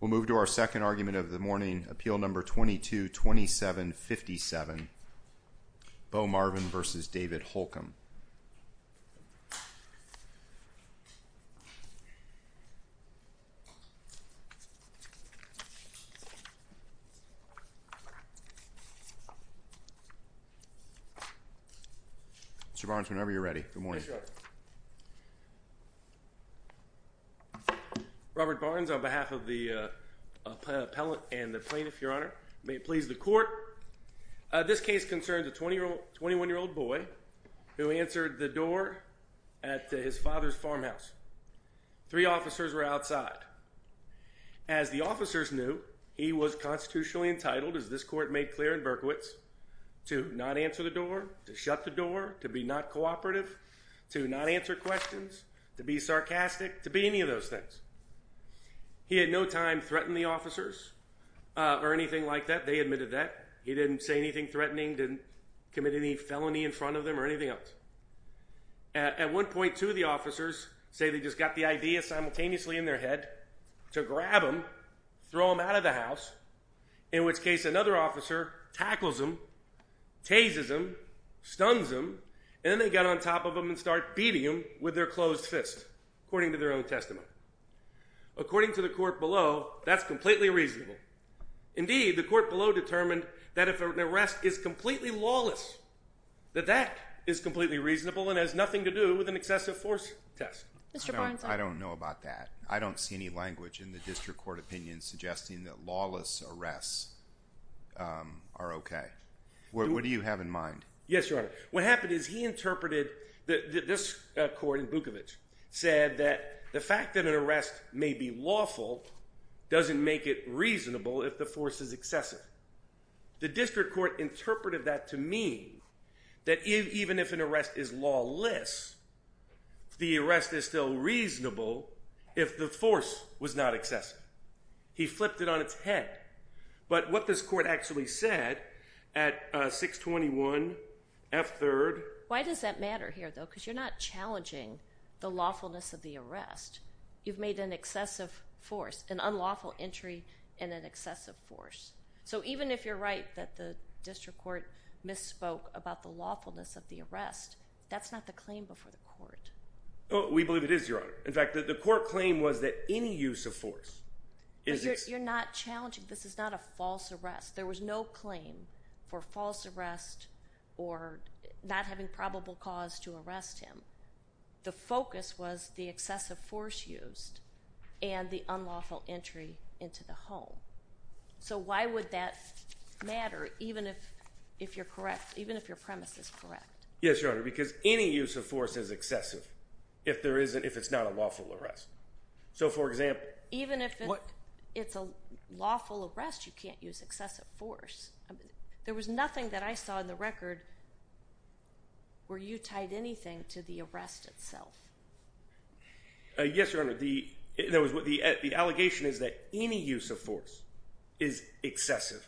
We'll move to our second argument of the morning, Appeal Number 222757, Bowe Marvin v. David Holcomb. Mr. Barnes, whenever you're ready. Good morning. Robert Barnes, on behalf of the appellant and the plaintiff, Your Honor, may it please the court. This case concerns a 21-year-old boy who answered the door at his father's farmhouse. Three officers were outside. As the officers knew, he was constitutionally entitled, as this court made clear in Berkowitz, to not answer the door, to shut the door, to be not cooperative, to not answer questions, to be sarcastic, to be any of those things. He had no time to threaten the officers or anything like that. They admitted that. He didn't say anything threatening, didn't commit any felony in front of them or anything else. At one point, two of the officers say they just got the idea simultaneously in their head to grab him, throw him out of the house, in which case another officer tackles him, tazes him, stuns him, and then they get on top of him and start beating him with their closed fist, according to their own testament. According to the court below, that's completely reasonable. Indeed, the court below determined that if an arrest is completely lawless, that that is completely reasonable and has nothing to do with an excessive force test. Mr. Barnes, I don't know about that. I don't see any language in the district court opinion suggesting that lawless arrests are OK. What do you have in mind? Yes, Your Honor. What happened is he interpreted that this court in Bukovic said that the fact that an arrest may be lawful doesn't make it reasonable if the force is excessive. The district court interpreted that to mean that even if an arrest is lawless, the arrest is still reasonable if the force was not excessive. He flipped it on its head, but what this court actually said at 621 F 3rd... Why does that matter here, though? Because you're not challenging the lawfulness of the arrest. You've made an excessive force, an unlawful entry, and an excessive force. So even if you're right that the district court misspoke about the lawfulness of the arrest, that's not the claim before the court. We believe it is, Your Honor. In fact, the court claim was that any use of force... You're not challenging. This is not a false arrest. There was no claim for false arrest or not having probable cause to arrest him. The focus was the excessive force used and the unlawful entry into the home. So why would that matter even if you're correct, even if your premise is correct? Yes, Your Honor, because any use of force is excessive if it's not a lawful arrest. So for example... Even if it's a lawful arrest, you can't use excessive force. There was nothing that I saw in the record where you tied anything to the arrest itself. Yes, Your Honor. The allegation is that any use of force is excessive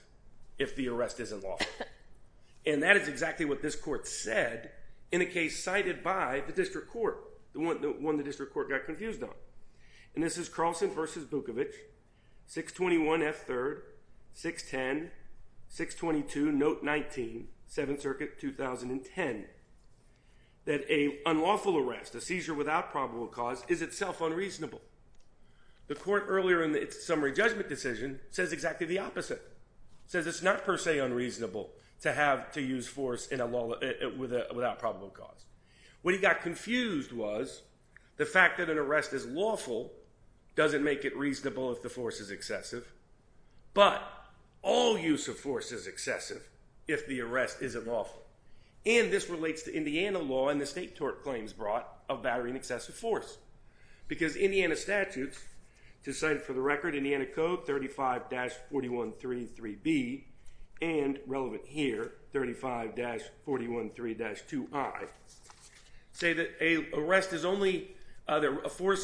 if the arrest isn't lawful. And that is exactly what this court said in a case cited by the district court, the one the district court got confused on. And this is Carlson v. Bukovic, 621 F. 3rd, 610, 622 Note 19, 7th Circuit, 2010, that an unlawful arrest, a seizure without probable cause, is itself unreasonable. The court earlier in its summary judgment decision says exactly the opposite. It says it's not per se unreasonable to have to What he got confused was the fact that an arrest is lawful doesn't make it reasonable if the force is excessive. But all use of force is excessive if the arrest isn't lawful. And this relates to Indiana law and the state court claims brought of battery and excessive force. Because Indiana statutes, to cite for the record, Indiana Code 35-4133B, and relevant here, 35-413-2I, say that a force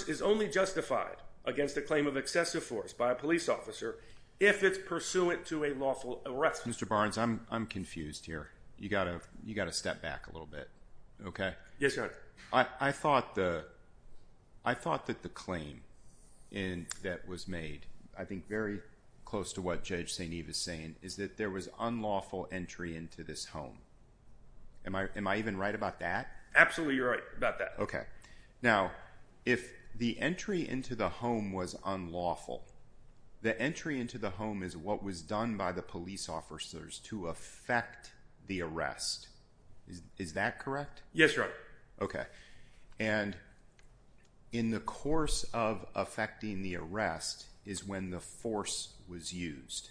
is only justified against a claim of excessive force by a police officer if it's pursuant to a lawful arrest. Mr. Barnes, I'm confused here. You got to step back a little bit, okay? Yes, Your Honor. I thought that the claim that was made, I think very close to what Judge St. into this home. Am I even right about that? Absolutely, you're right about that. Okay. Now, if the entry into the home was unlawful, the entry into the home is what was done by the police officers to affect the arrest. Is that correct? Yes, Your Honor. Okay. And in the course of affecting the arrest is when the force was used.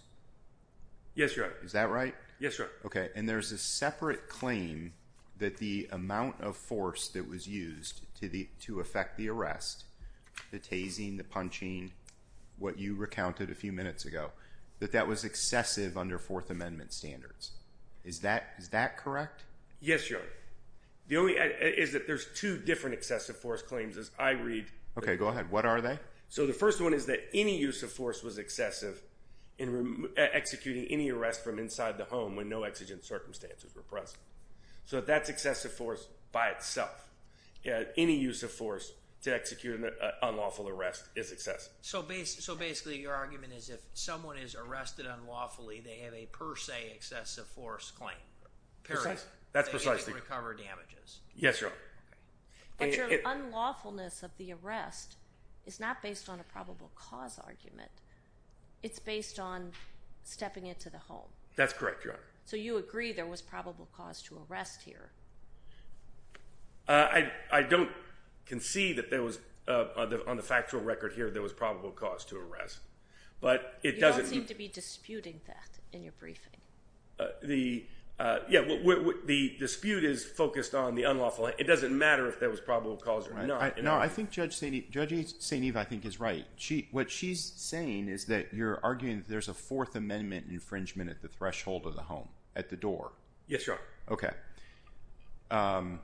Yes, Your Honor. Is that right? Yes, Your Honor. Okay. And there's a separate claim that the amount of force that was used to affect the arrest, the tasing, the punching, what you recounted a few minutes ago, that that was excessive under Fourth Amendment standards. Is that correct? Yes, Your Honor. The only is that there's two different excessive force claims as I read. Okay, go ahead. One is that any use of force was excessive in executing any arrest from inside the home when no exigent circumstances were present. So, that's excessive force by itself. Any use of force to execute an unlawful arrest is excessive. So, basically, your argument is if someone is arrested unlawfully, they have a per se excessive force claim. That's precisely. To recover damages. Yes, Your Honor. But your unlawfulness of the arrest is not based on a probable cause argument. It's based on stepping into the home. That's correct, Your Honor. So, you agree there was probable cause to arrest here. I don't concede that there was on the factual record here, there was probable cause to arrest. But it doesn't. You don't seem to be disputing that in your briefing. The dispute is focused on the unlawful. It doesn't matter if there was probable cause or not. No, I think is right. She, what she's saying is that you're arguing that there's a fourth amendment infringement at the threshold of the home, at the door. Yes, Your Honor. Okay.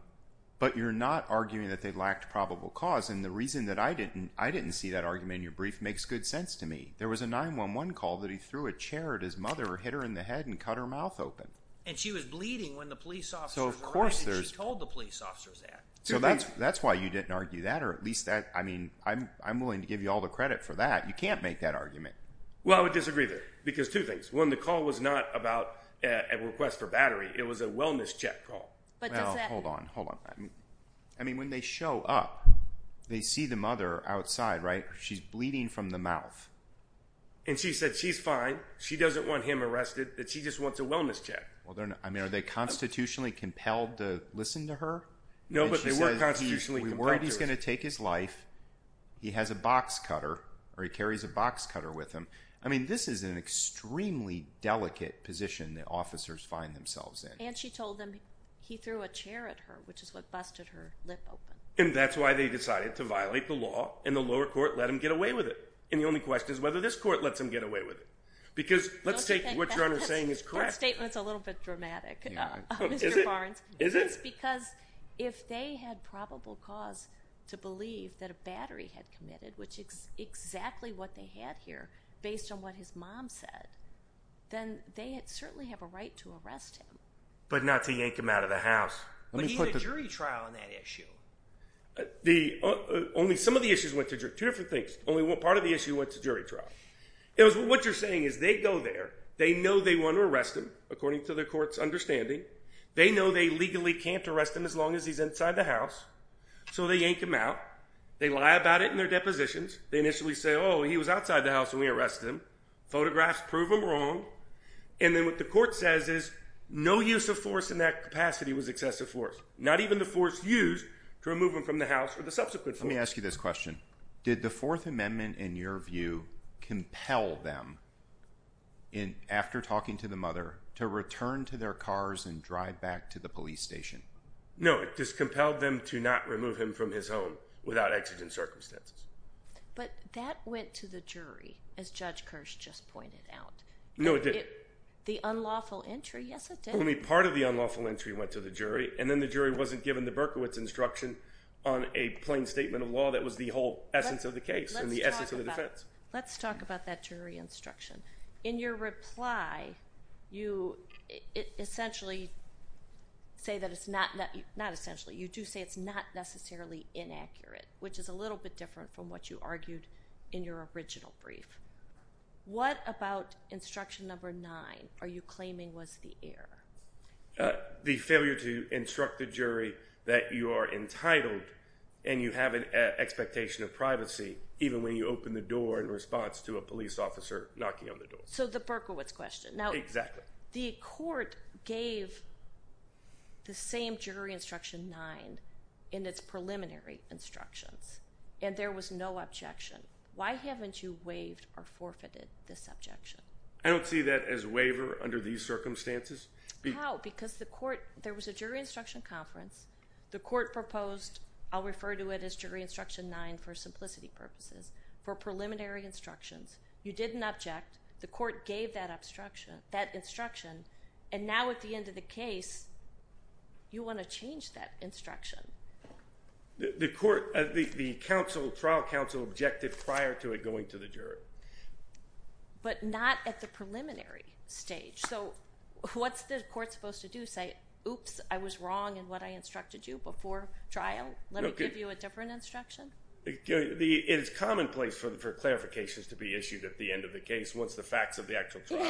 But you're not arguing that they lacked probable cause and the reason that I didn't, I didn't see that argument in your brief makes good sense to me. There was a 911 call that he threw a chair at his mother, hit her in the head, and cut her mouth open. And she was bleeding when the police officers. So, of course, there's. She told the police officers that. So, that's, that's why you didn't argue that or at least that, I mean, I'm, I'm willing to give you all the credit for that. You can't make that argument. Well, I would disagree there because two things. One, the call was not about a request for battery. It was a wellness check call. Well, hold on, hold on. I mean, when they show up, they see the mother outside, right? She's bleeding from the mouth. And she said she's fine. She doesn't want him arrested. That she just wants a wellness check. Well, they're not, I mean, are they constitutionally compelled to listen to her? No, we weren't. He's going to take his life. He has a box cutter or he carries a box cutter with him. I mean, this is an extremely delicate position that officers find themselves in. And she told him he threw a chair at her, which is what busted her lip open. And that's why they decided to violate the law and the lower court let him get away with it. And the only question is whether this court lets him get away with it. Because let's take what you're saying is correct. That statement's a little bit dramatic. Mr. Barnes. Is it? Because if they had probable cause to believe that a battery had committed, which is exactly what they had here based on what his mom said, then they certainly have a right to arrest him. But not to yank him out of the house. But he's a jury trial on that issue. Only some of the issues went to different things. Only one part of the issue went to jury trial. It was what you're saying is they go there. They know they want to arrest him according to the court's understanding. They know they legally can't arrest him as long as he's inside the house. So they yank him out. They lie about it in their depositions. They initially say, oh, he was outside the house when we arrested him. Photographs prove him wrong. And then what the court says is no use of force in that capacity was excessive force. Not even the force used to remove him from the house or the subsequent. Let me ask you this question. Did the Fourth Amendment in your view compel them in after talking to the mother to return to their cars and drive back to the police station? No, it just compelled them to not remove him from his home without exigent circumstances. But that went to the jury, as Judge Kirsch just pointed out. No, it didn't. The unlawful entry. Yes, it did. I mean, part of the unlawful entry went to the jury and then the jury wasn't given the Berkowitz instruction on a plain statement of law. That was the whole essence of the case and the essence of the defense. Let's talk about that jury instruction. In your reply, you essentially say that it's not, not essentially, you do say it's not necessarily inaccurate, which is a little bit different from what you argued in your original brief. What about instruction number nine are you claiming was the error? The failure to instruct the jury that you are entitled and you have an expectation of privacy, even when you open the door in response to a police officer knocking on the door. So the Berkowitz question. Now, exactly. The court gave the same jury instruction nine in its preliminary instructions and there was no objection. Why haven't you waived or forfeited this objection? I don't see that as waiver under these circumstances. How? Because the court, there was a jury instruction conference, the court proposed, I'll refer to it as jury instruction nine for the case. You didn't object. The court gave that instruction and now at the end of the case, you want to change that instruction. The trial counsel objected prior to it going to the jury. But not at the preliminary stage. So what's the court supposed to do? Say, oops, I was wrong in what I instructed you before trial. Let me give you a different instruction. It's commonplace for clarifications to be issued at the end of the case. What's the facts of the actual trial?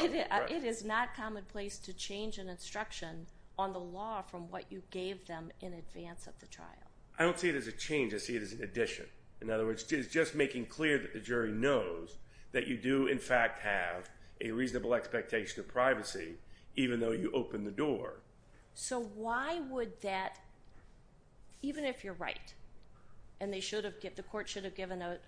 It is not commonplace to change an instruction on the law from what you gave them in advance of the trial. I don't see it as a change. I see it as an addition. In other words, it's just making clear that the jury knows that you do, in fact, have a reasonable expectation of privacy, even though you open the door. So why would that, even if you're right, and they should have, the court should have given a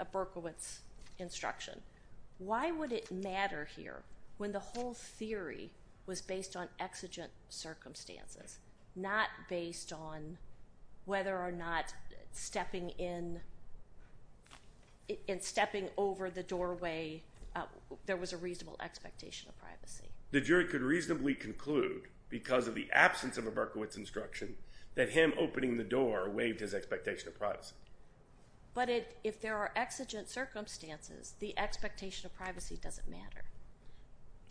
why would it matter here when the whole theory was based on exigent circumstances, not based on whether or not stepping in and stepping over the doorway, there was a reasonable expectation of privacy. The jury could reasonably conclude because of the absence of a Berkowitz instruction that him opening the door waived his expectation of privacy. But if there are exigent circumstances, the expectation of privacy doesn't matter.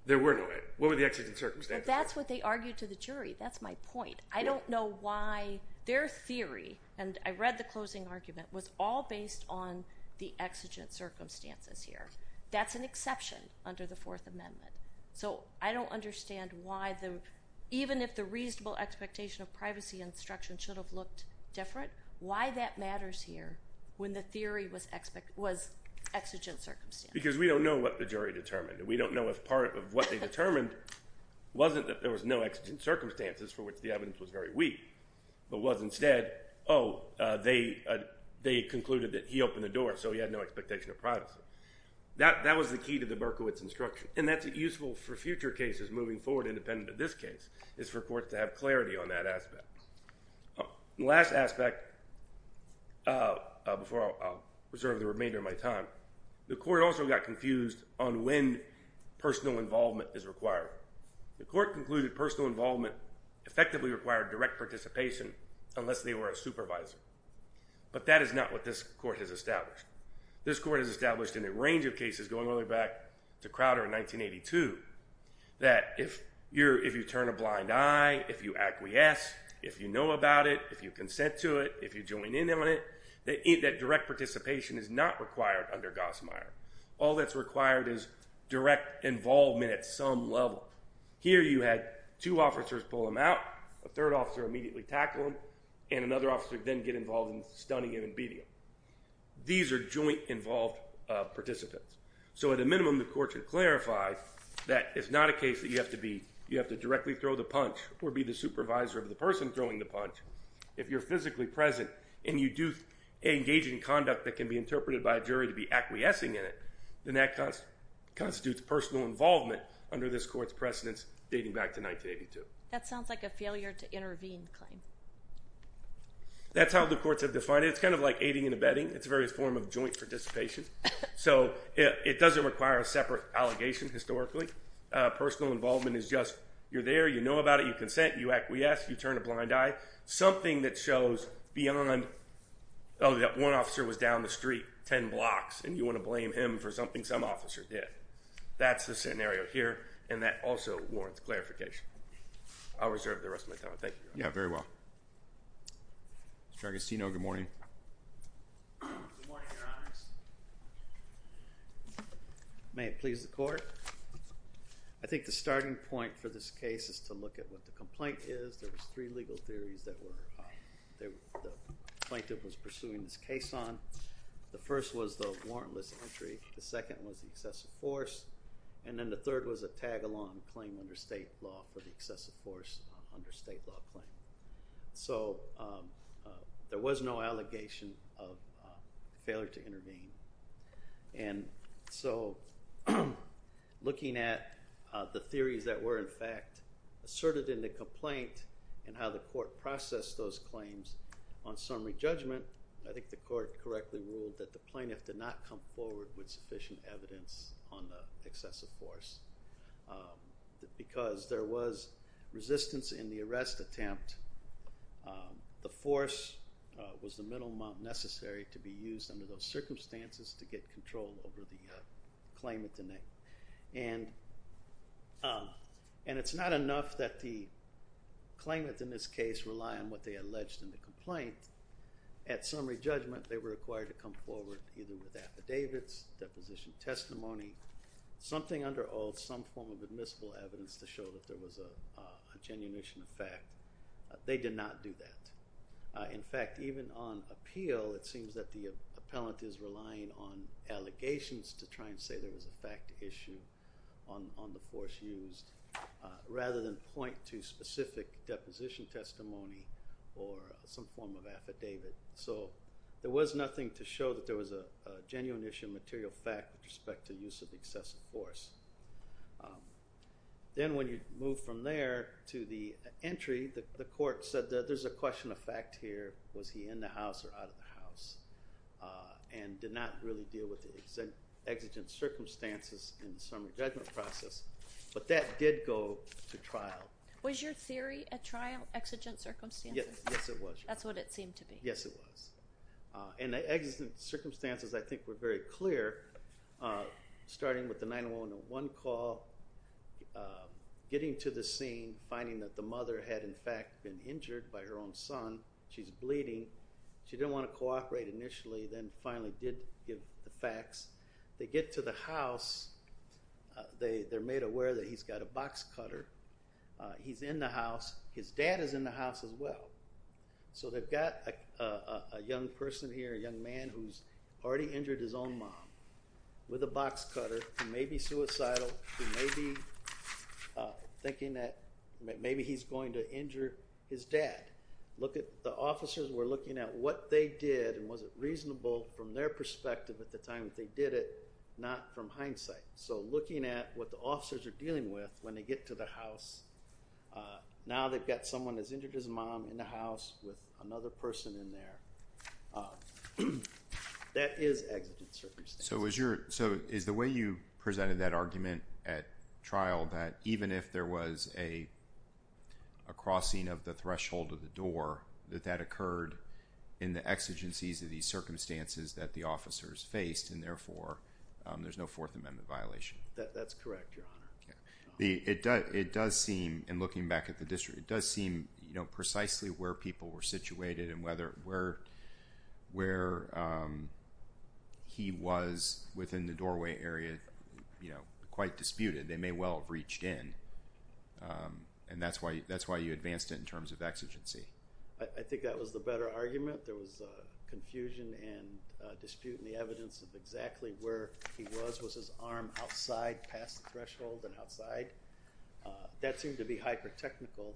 There were no exigent circumstances. But that's what they argued to the jury. That's my point. I don't know why their theory, and I read the closing argument, was all based on the exigent circumstances here. That's an exception under the Fourth Amendment. So I don't understand why, even if the reasonable expectation of privacy instruction should have looked different, why that matters here when the theory was exigent circumstances. Because we don't know what the jury determined. We don't know if part of what they determined wasn't that there was no exigent circumstances for which the evidence was very weak, but was instead, oh, they concluded that he opened the door, so he had no expectation of privacy. That was the key to the Berkowitz instruction. And that's useful for future cases moving forward, independent of this case, is for courts to have clarity on that aspect. The last aspect, before I'll reserve the remainder of my time, the court also got confused on when personal involvement is required. The court concluded personal involvement effectively required direct participation unless they were a supervisor. But that is not what this court has established. This court has established in a range of cases going all the way back to Crowder in 1982, that if you turn a blind eye, if you acquiesce, if you know about it, if you consent to it, if you join in on it, that direct participation is not required under Gossmeier. All that's required is direct involvement at some level. Here you had two officers pull him out, a third officer immediately tackle him, and another officer then get involved in stunning him and beating him. These are joint involved participants. So at a minimum, the court should clarify that it's not a case you have to directly throw the punch or be the supervisor of the person throwing the punch. If you're physically present and you do engage in conduct that can be interpreted by a jury to be acquiescing in it, then that constitutes personal involvement under this court's precedence dating back to 1982. That sounds like a failure to intervene claim. That's how the courts have defined it. It's kind of like aiding and abetting. It's a various form of joint participation. So it doesn't require a separate allegation historically. Personal involvement is just you're there, you know about it, you consent, you acquiesce, you turn a blind eye. Something that shows beyond, oh that one officer was down the street 10 blocks and you want to blame him for something some officer did. That's the scenario here and that also warrants clarification. I'll reserve the rest of my time. Thank you. Yeah, very well. Mr. Agostino, good morning. Good morning, Your Honor. May it please the court. I think the starting point for this case is to look at what the complaint is. There was three legal theories that the plaintiff was pursuing this case on. The first was the warrantless entry, the second was the excessive force, and then the third was a tag-along claim under state law for the excessive force under the allegation of failure to intervene. And so looking at the theories that were in fact asserted in the complaint and how the court processed those claims on summary judgment, I think the court correctly ruled that the plaintiff did not come forward with sufficient evidence on the excessive force because there was resistance in the arrest attempt. The force was the minimum necessary to be used under those circumstances to get control over the claimant. And it's not enough that the claimant in this case rely on what they alleged in the complaint. At summary judgment, they were required to come forward either with affidavits, deposition testimony, something under oath, some form of admissible evidence to show that there was a genuination of fact. They did not do that. In fact, even on appeal, it seems that the appellant is relying on allegations to try and say there was a fact issue on the force used rather than point to specific deposition testimony or some form of affidavit. So there was nothing to show that there was a genuine issue of material fact with respect to use of excessive force. Then when you move from there to the entry, the court said that there's a question of fact here. Was he in the house or out of the house and did not really deal with the exigent circumstances in the summary judgment process. But that did go to trial. Was your theory at trial exigent circumstances? Yes, it was. That's what it seemed to be. Yes, it was. And the exigent circumstances, I think, were very clear, starting with the 911 call, getting to the scene, finding that the mother had, in fact, been injured by her own son. She's bleeding. She didn't want to cooperate initially, then finally did give the facts. They get to the house. They're made aware that he's got a box cutter. He's in the house. His dad is in the house as well. So they've got a young person with a box cutter who may be suicidal, who may be thinking that maybe he's going to injure his dad. The officers were looking at what they did and was it reasonable from their perspective at the time that they did it, not from hindsight. So looking at what the officers are dealing with when they get to the house. Now they've got someone that's injured his mom in the house with another person in there. That is exigent circumstances. So is the way you presented that argument at trial that even if there was a crossing of the threshold of the door, that that occurred in the exigencies of these circumstances that the officers faced and therefore there's no Fourth Amendment violation? That's correct, Your Honor. It does seem, and looking back at the district, it does seem precisely where people were situated and where he was within the doorway area quite disputed. They may well have reached in and that's why you advanced it in terms of exigency. I think that was the better argument. There was confusion and dispute in the evidence of exactly where he was. Was his arm outside past the threshold and outside? That seemed to be hyper-technical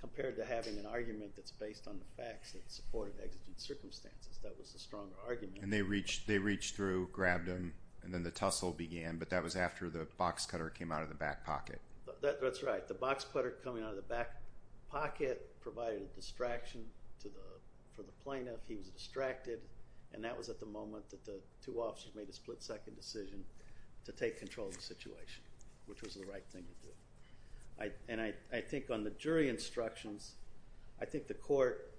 compared to having an argument that's based on the facts that supported exigent circumstances. That was the stronger argument. And they reached through, grabbed him, and then the tussle began, but that was after the box cutter came out of the back pocket. That's right. The box cutter coming out of the back pocket provided a distraction for the plaintiff. He was distracted and that was at the moment that the two officers made a split-second decision to take control of the situation, which was the right thing to do. And I think on the jury instructions, I think the court,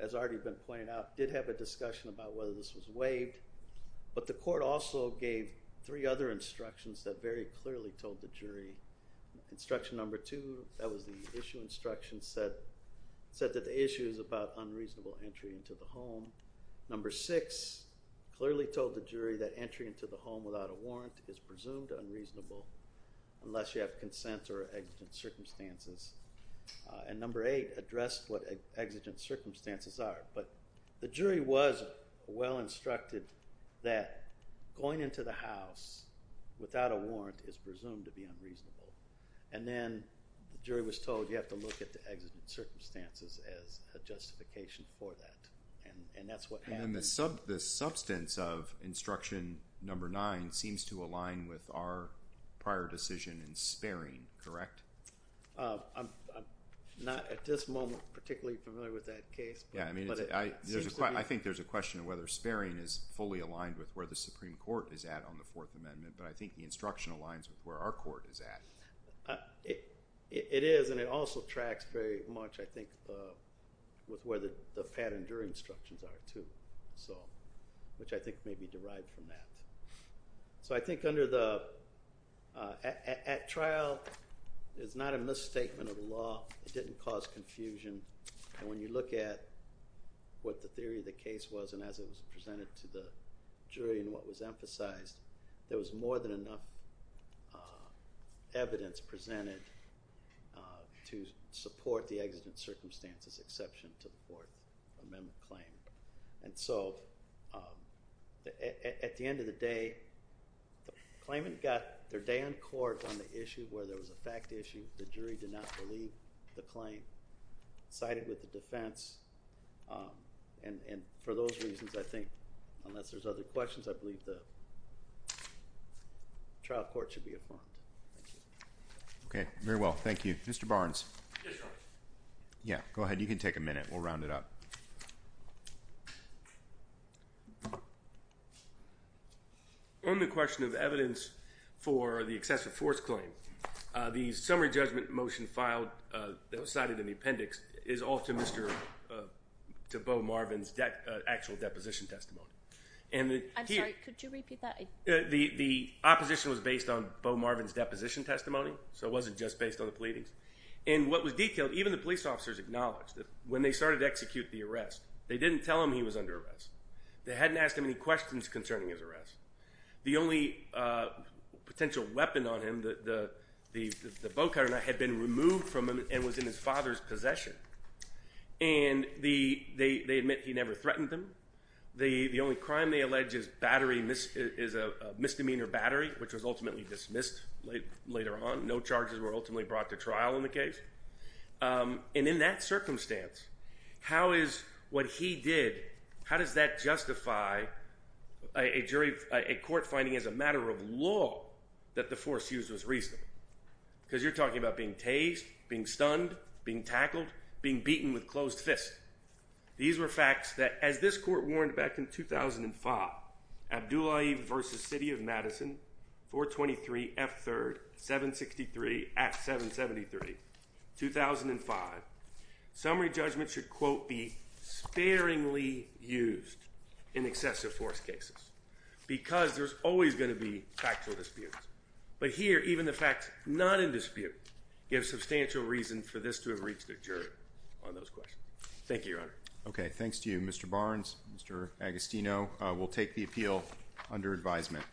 as already been pointed out, did have a discussion about whether this was waived, but the court also gave three other instructions that very clearly told the jury. Instruction number two, that was the issue instruction, said that the issue is about unreasonable entry into the home. Number six, clearly told the jury that entry into the home without a warrant is presumed unreasonable unless you have consent or exigent circumstances. And number eight, addressed what exigent circumstances are. But the jury was well instructed that going into the house without a warrant is presumed to be unreasonable. And then the jury was told you have to look at the exigent circumstances as a justification for that. And that's what happened. And the substance of instruction number nine seems to align with our prior decision in sparing, correct? I'm not at this moment particularly familiar with that case. I think there's a question of whether sparing is fully aligned with where the Supreme Court is at on the Fourth Amendment, but I think the instruction aligns with where our court is at. It is, and it also tracks very much, I think, with where the So, which I think may be derived from that. So I think at trial, it's not a misstatement of the law. It didn't cause confusion. And when you look at what the theory of the case was, and as it was presented to the jury and what was emphasized, there was more than enough evidence presented to support the exigent circumstances, exception to the Amendment claim. And so, at the end of the day, the claimant got their day on court on the issue where there was a fact issue, the jury did not believe the claim, sided with the defense, and for those reasons, I think, unless there's other questions, I believe the trial court should be a bond. Thank you. Okay, very well. Thank you. Mr. Barnes. Yeah, go ahead. You can take a minute. We'll round it up. On the question of evidence for the excessive force claim, the summary judgment motion filed, that was cited in the appendix, is all to Bo Marvin's actual deposition testimony. I'm sorry, could you repeat that? The opposition was based on Bo Marvin's deposition testimony, so it wasn't just based on the pleadings. And what was detailed, even the police officers acknowledged when they started to execute the arrest, they didn't tell him he was under arrest. They hadn't asked him any questions concerning his arrest. The only potential weapon on him, the bow cutter, had been removed from him and was in his father's possession. And they admit he never threatened them. The only crime they allege is a misdemeanor battery, which was ultimately dismissed later on. No charges were ultimately brought to trial in the case. And in that circumstance, how is what he did, how does that justify a jury, a court finding as a matter of law that the force used was reasonable? Because you're talking about being tased, being stunned, being tackled, being beaten with closed fists. These were facts that, as this court warned back in 2005, Abdullahi versus City of Madison, 423 F3rd 763 at 773, 2005. Summary judgment should, quote, be sparingly used in excessive force cases because there's always going to be factual disputes. But here, even the facts not in dispute give substantial reason for this to have reached a jury on those questions. Thank you, Your Honor. Okay. Thanks to you, Mr. Barnes, Mr. Agostino. We'll take the appeal under advisement.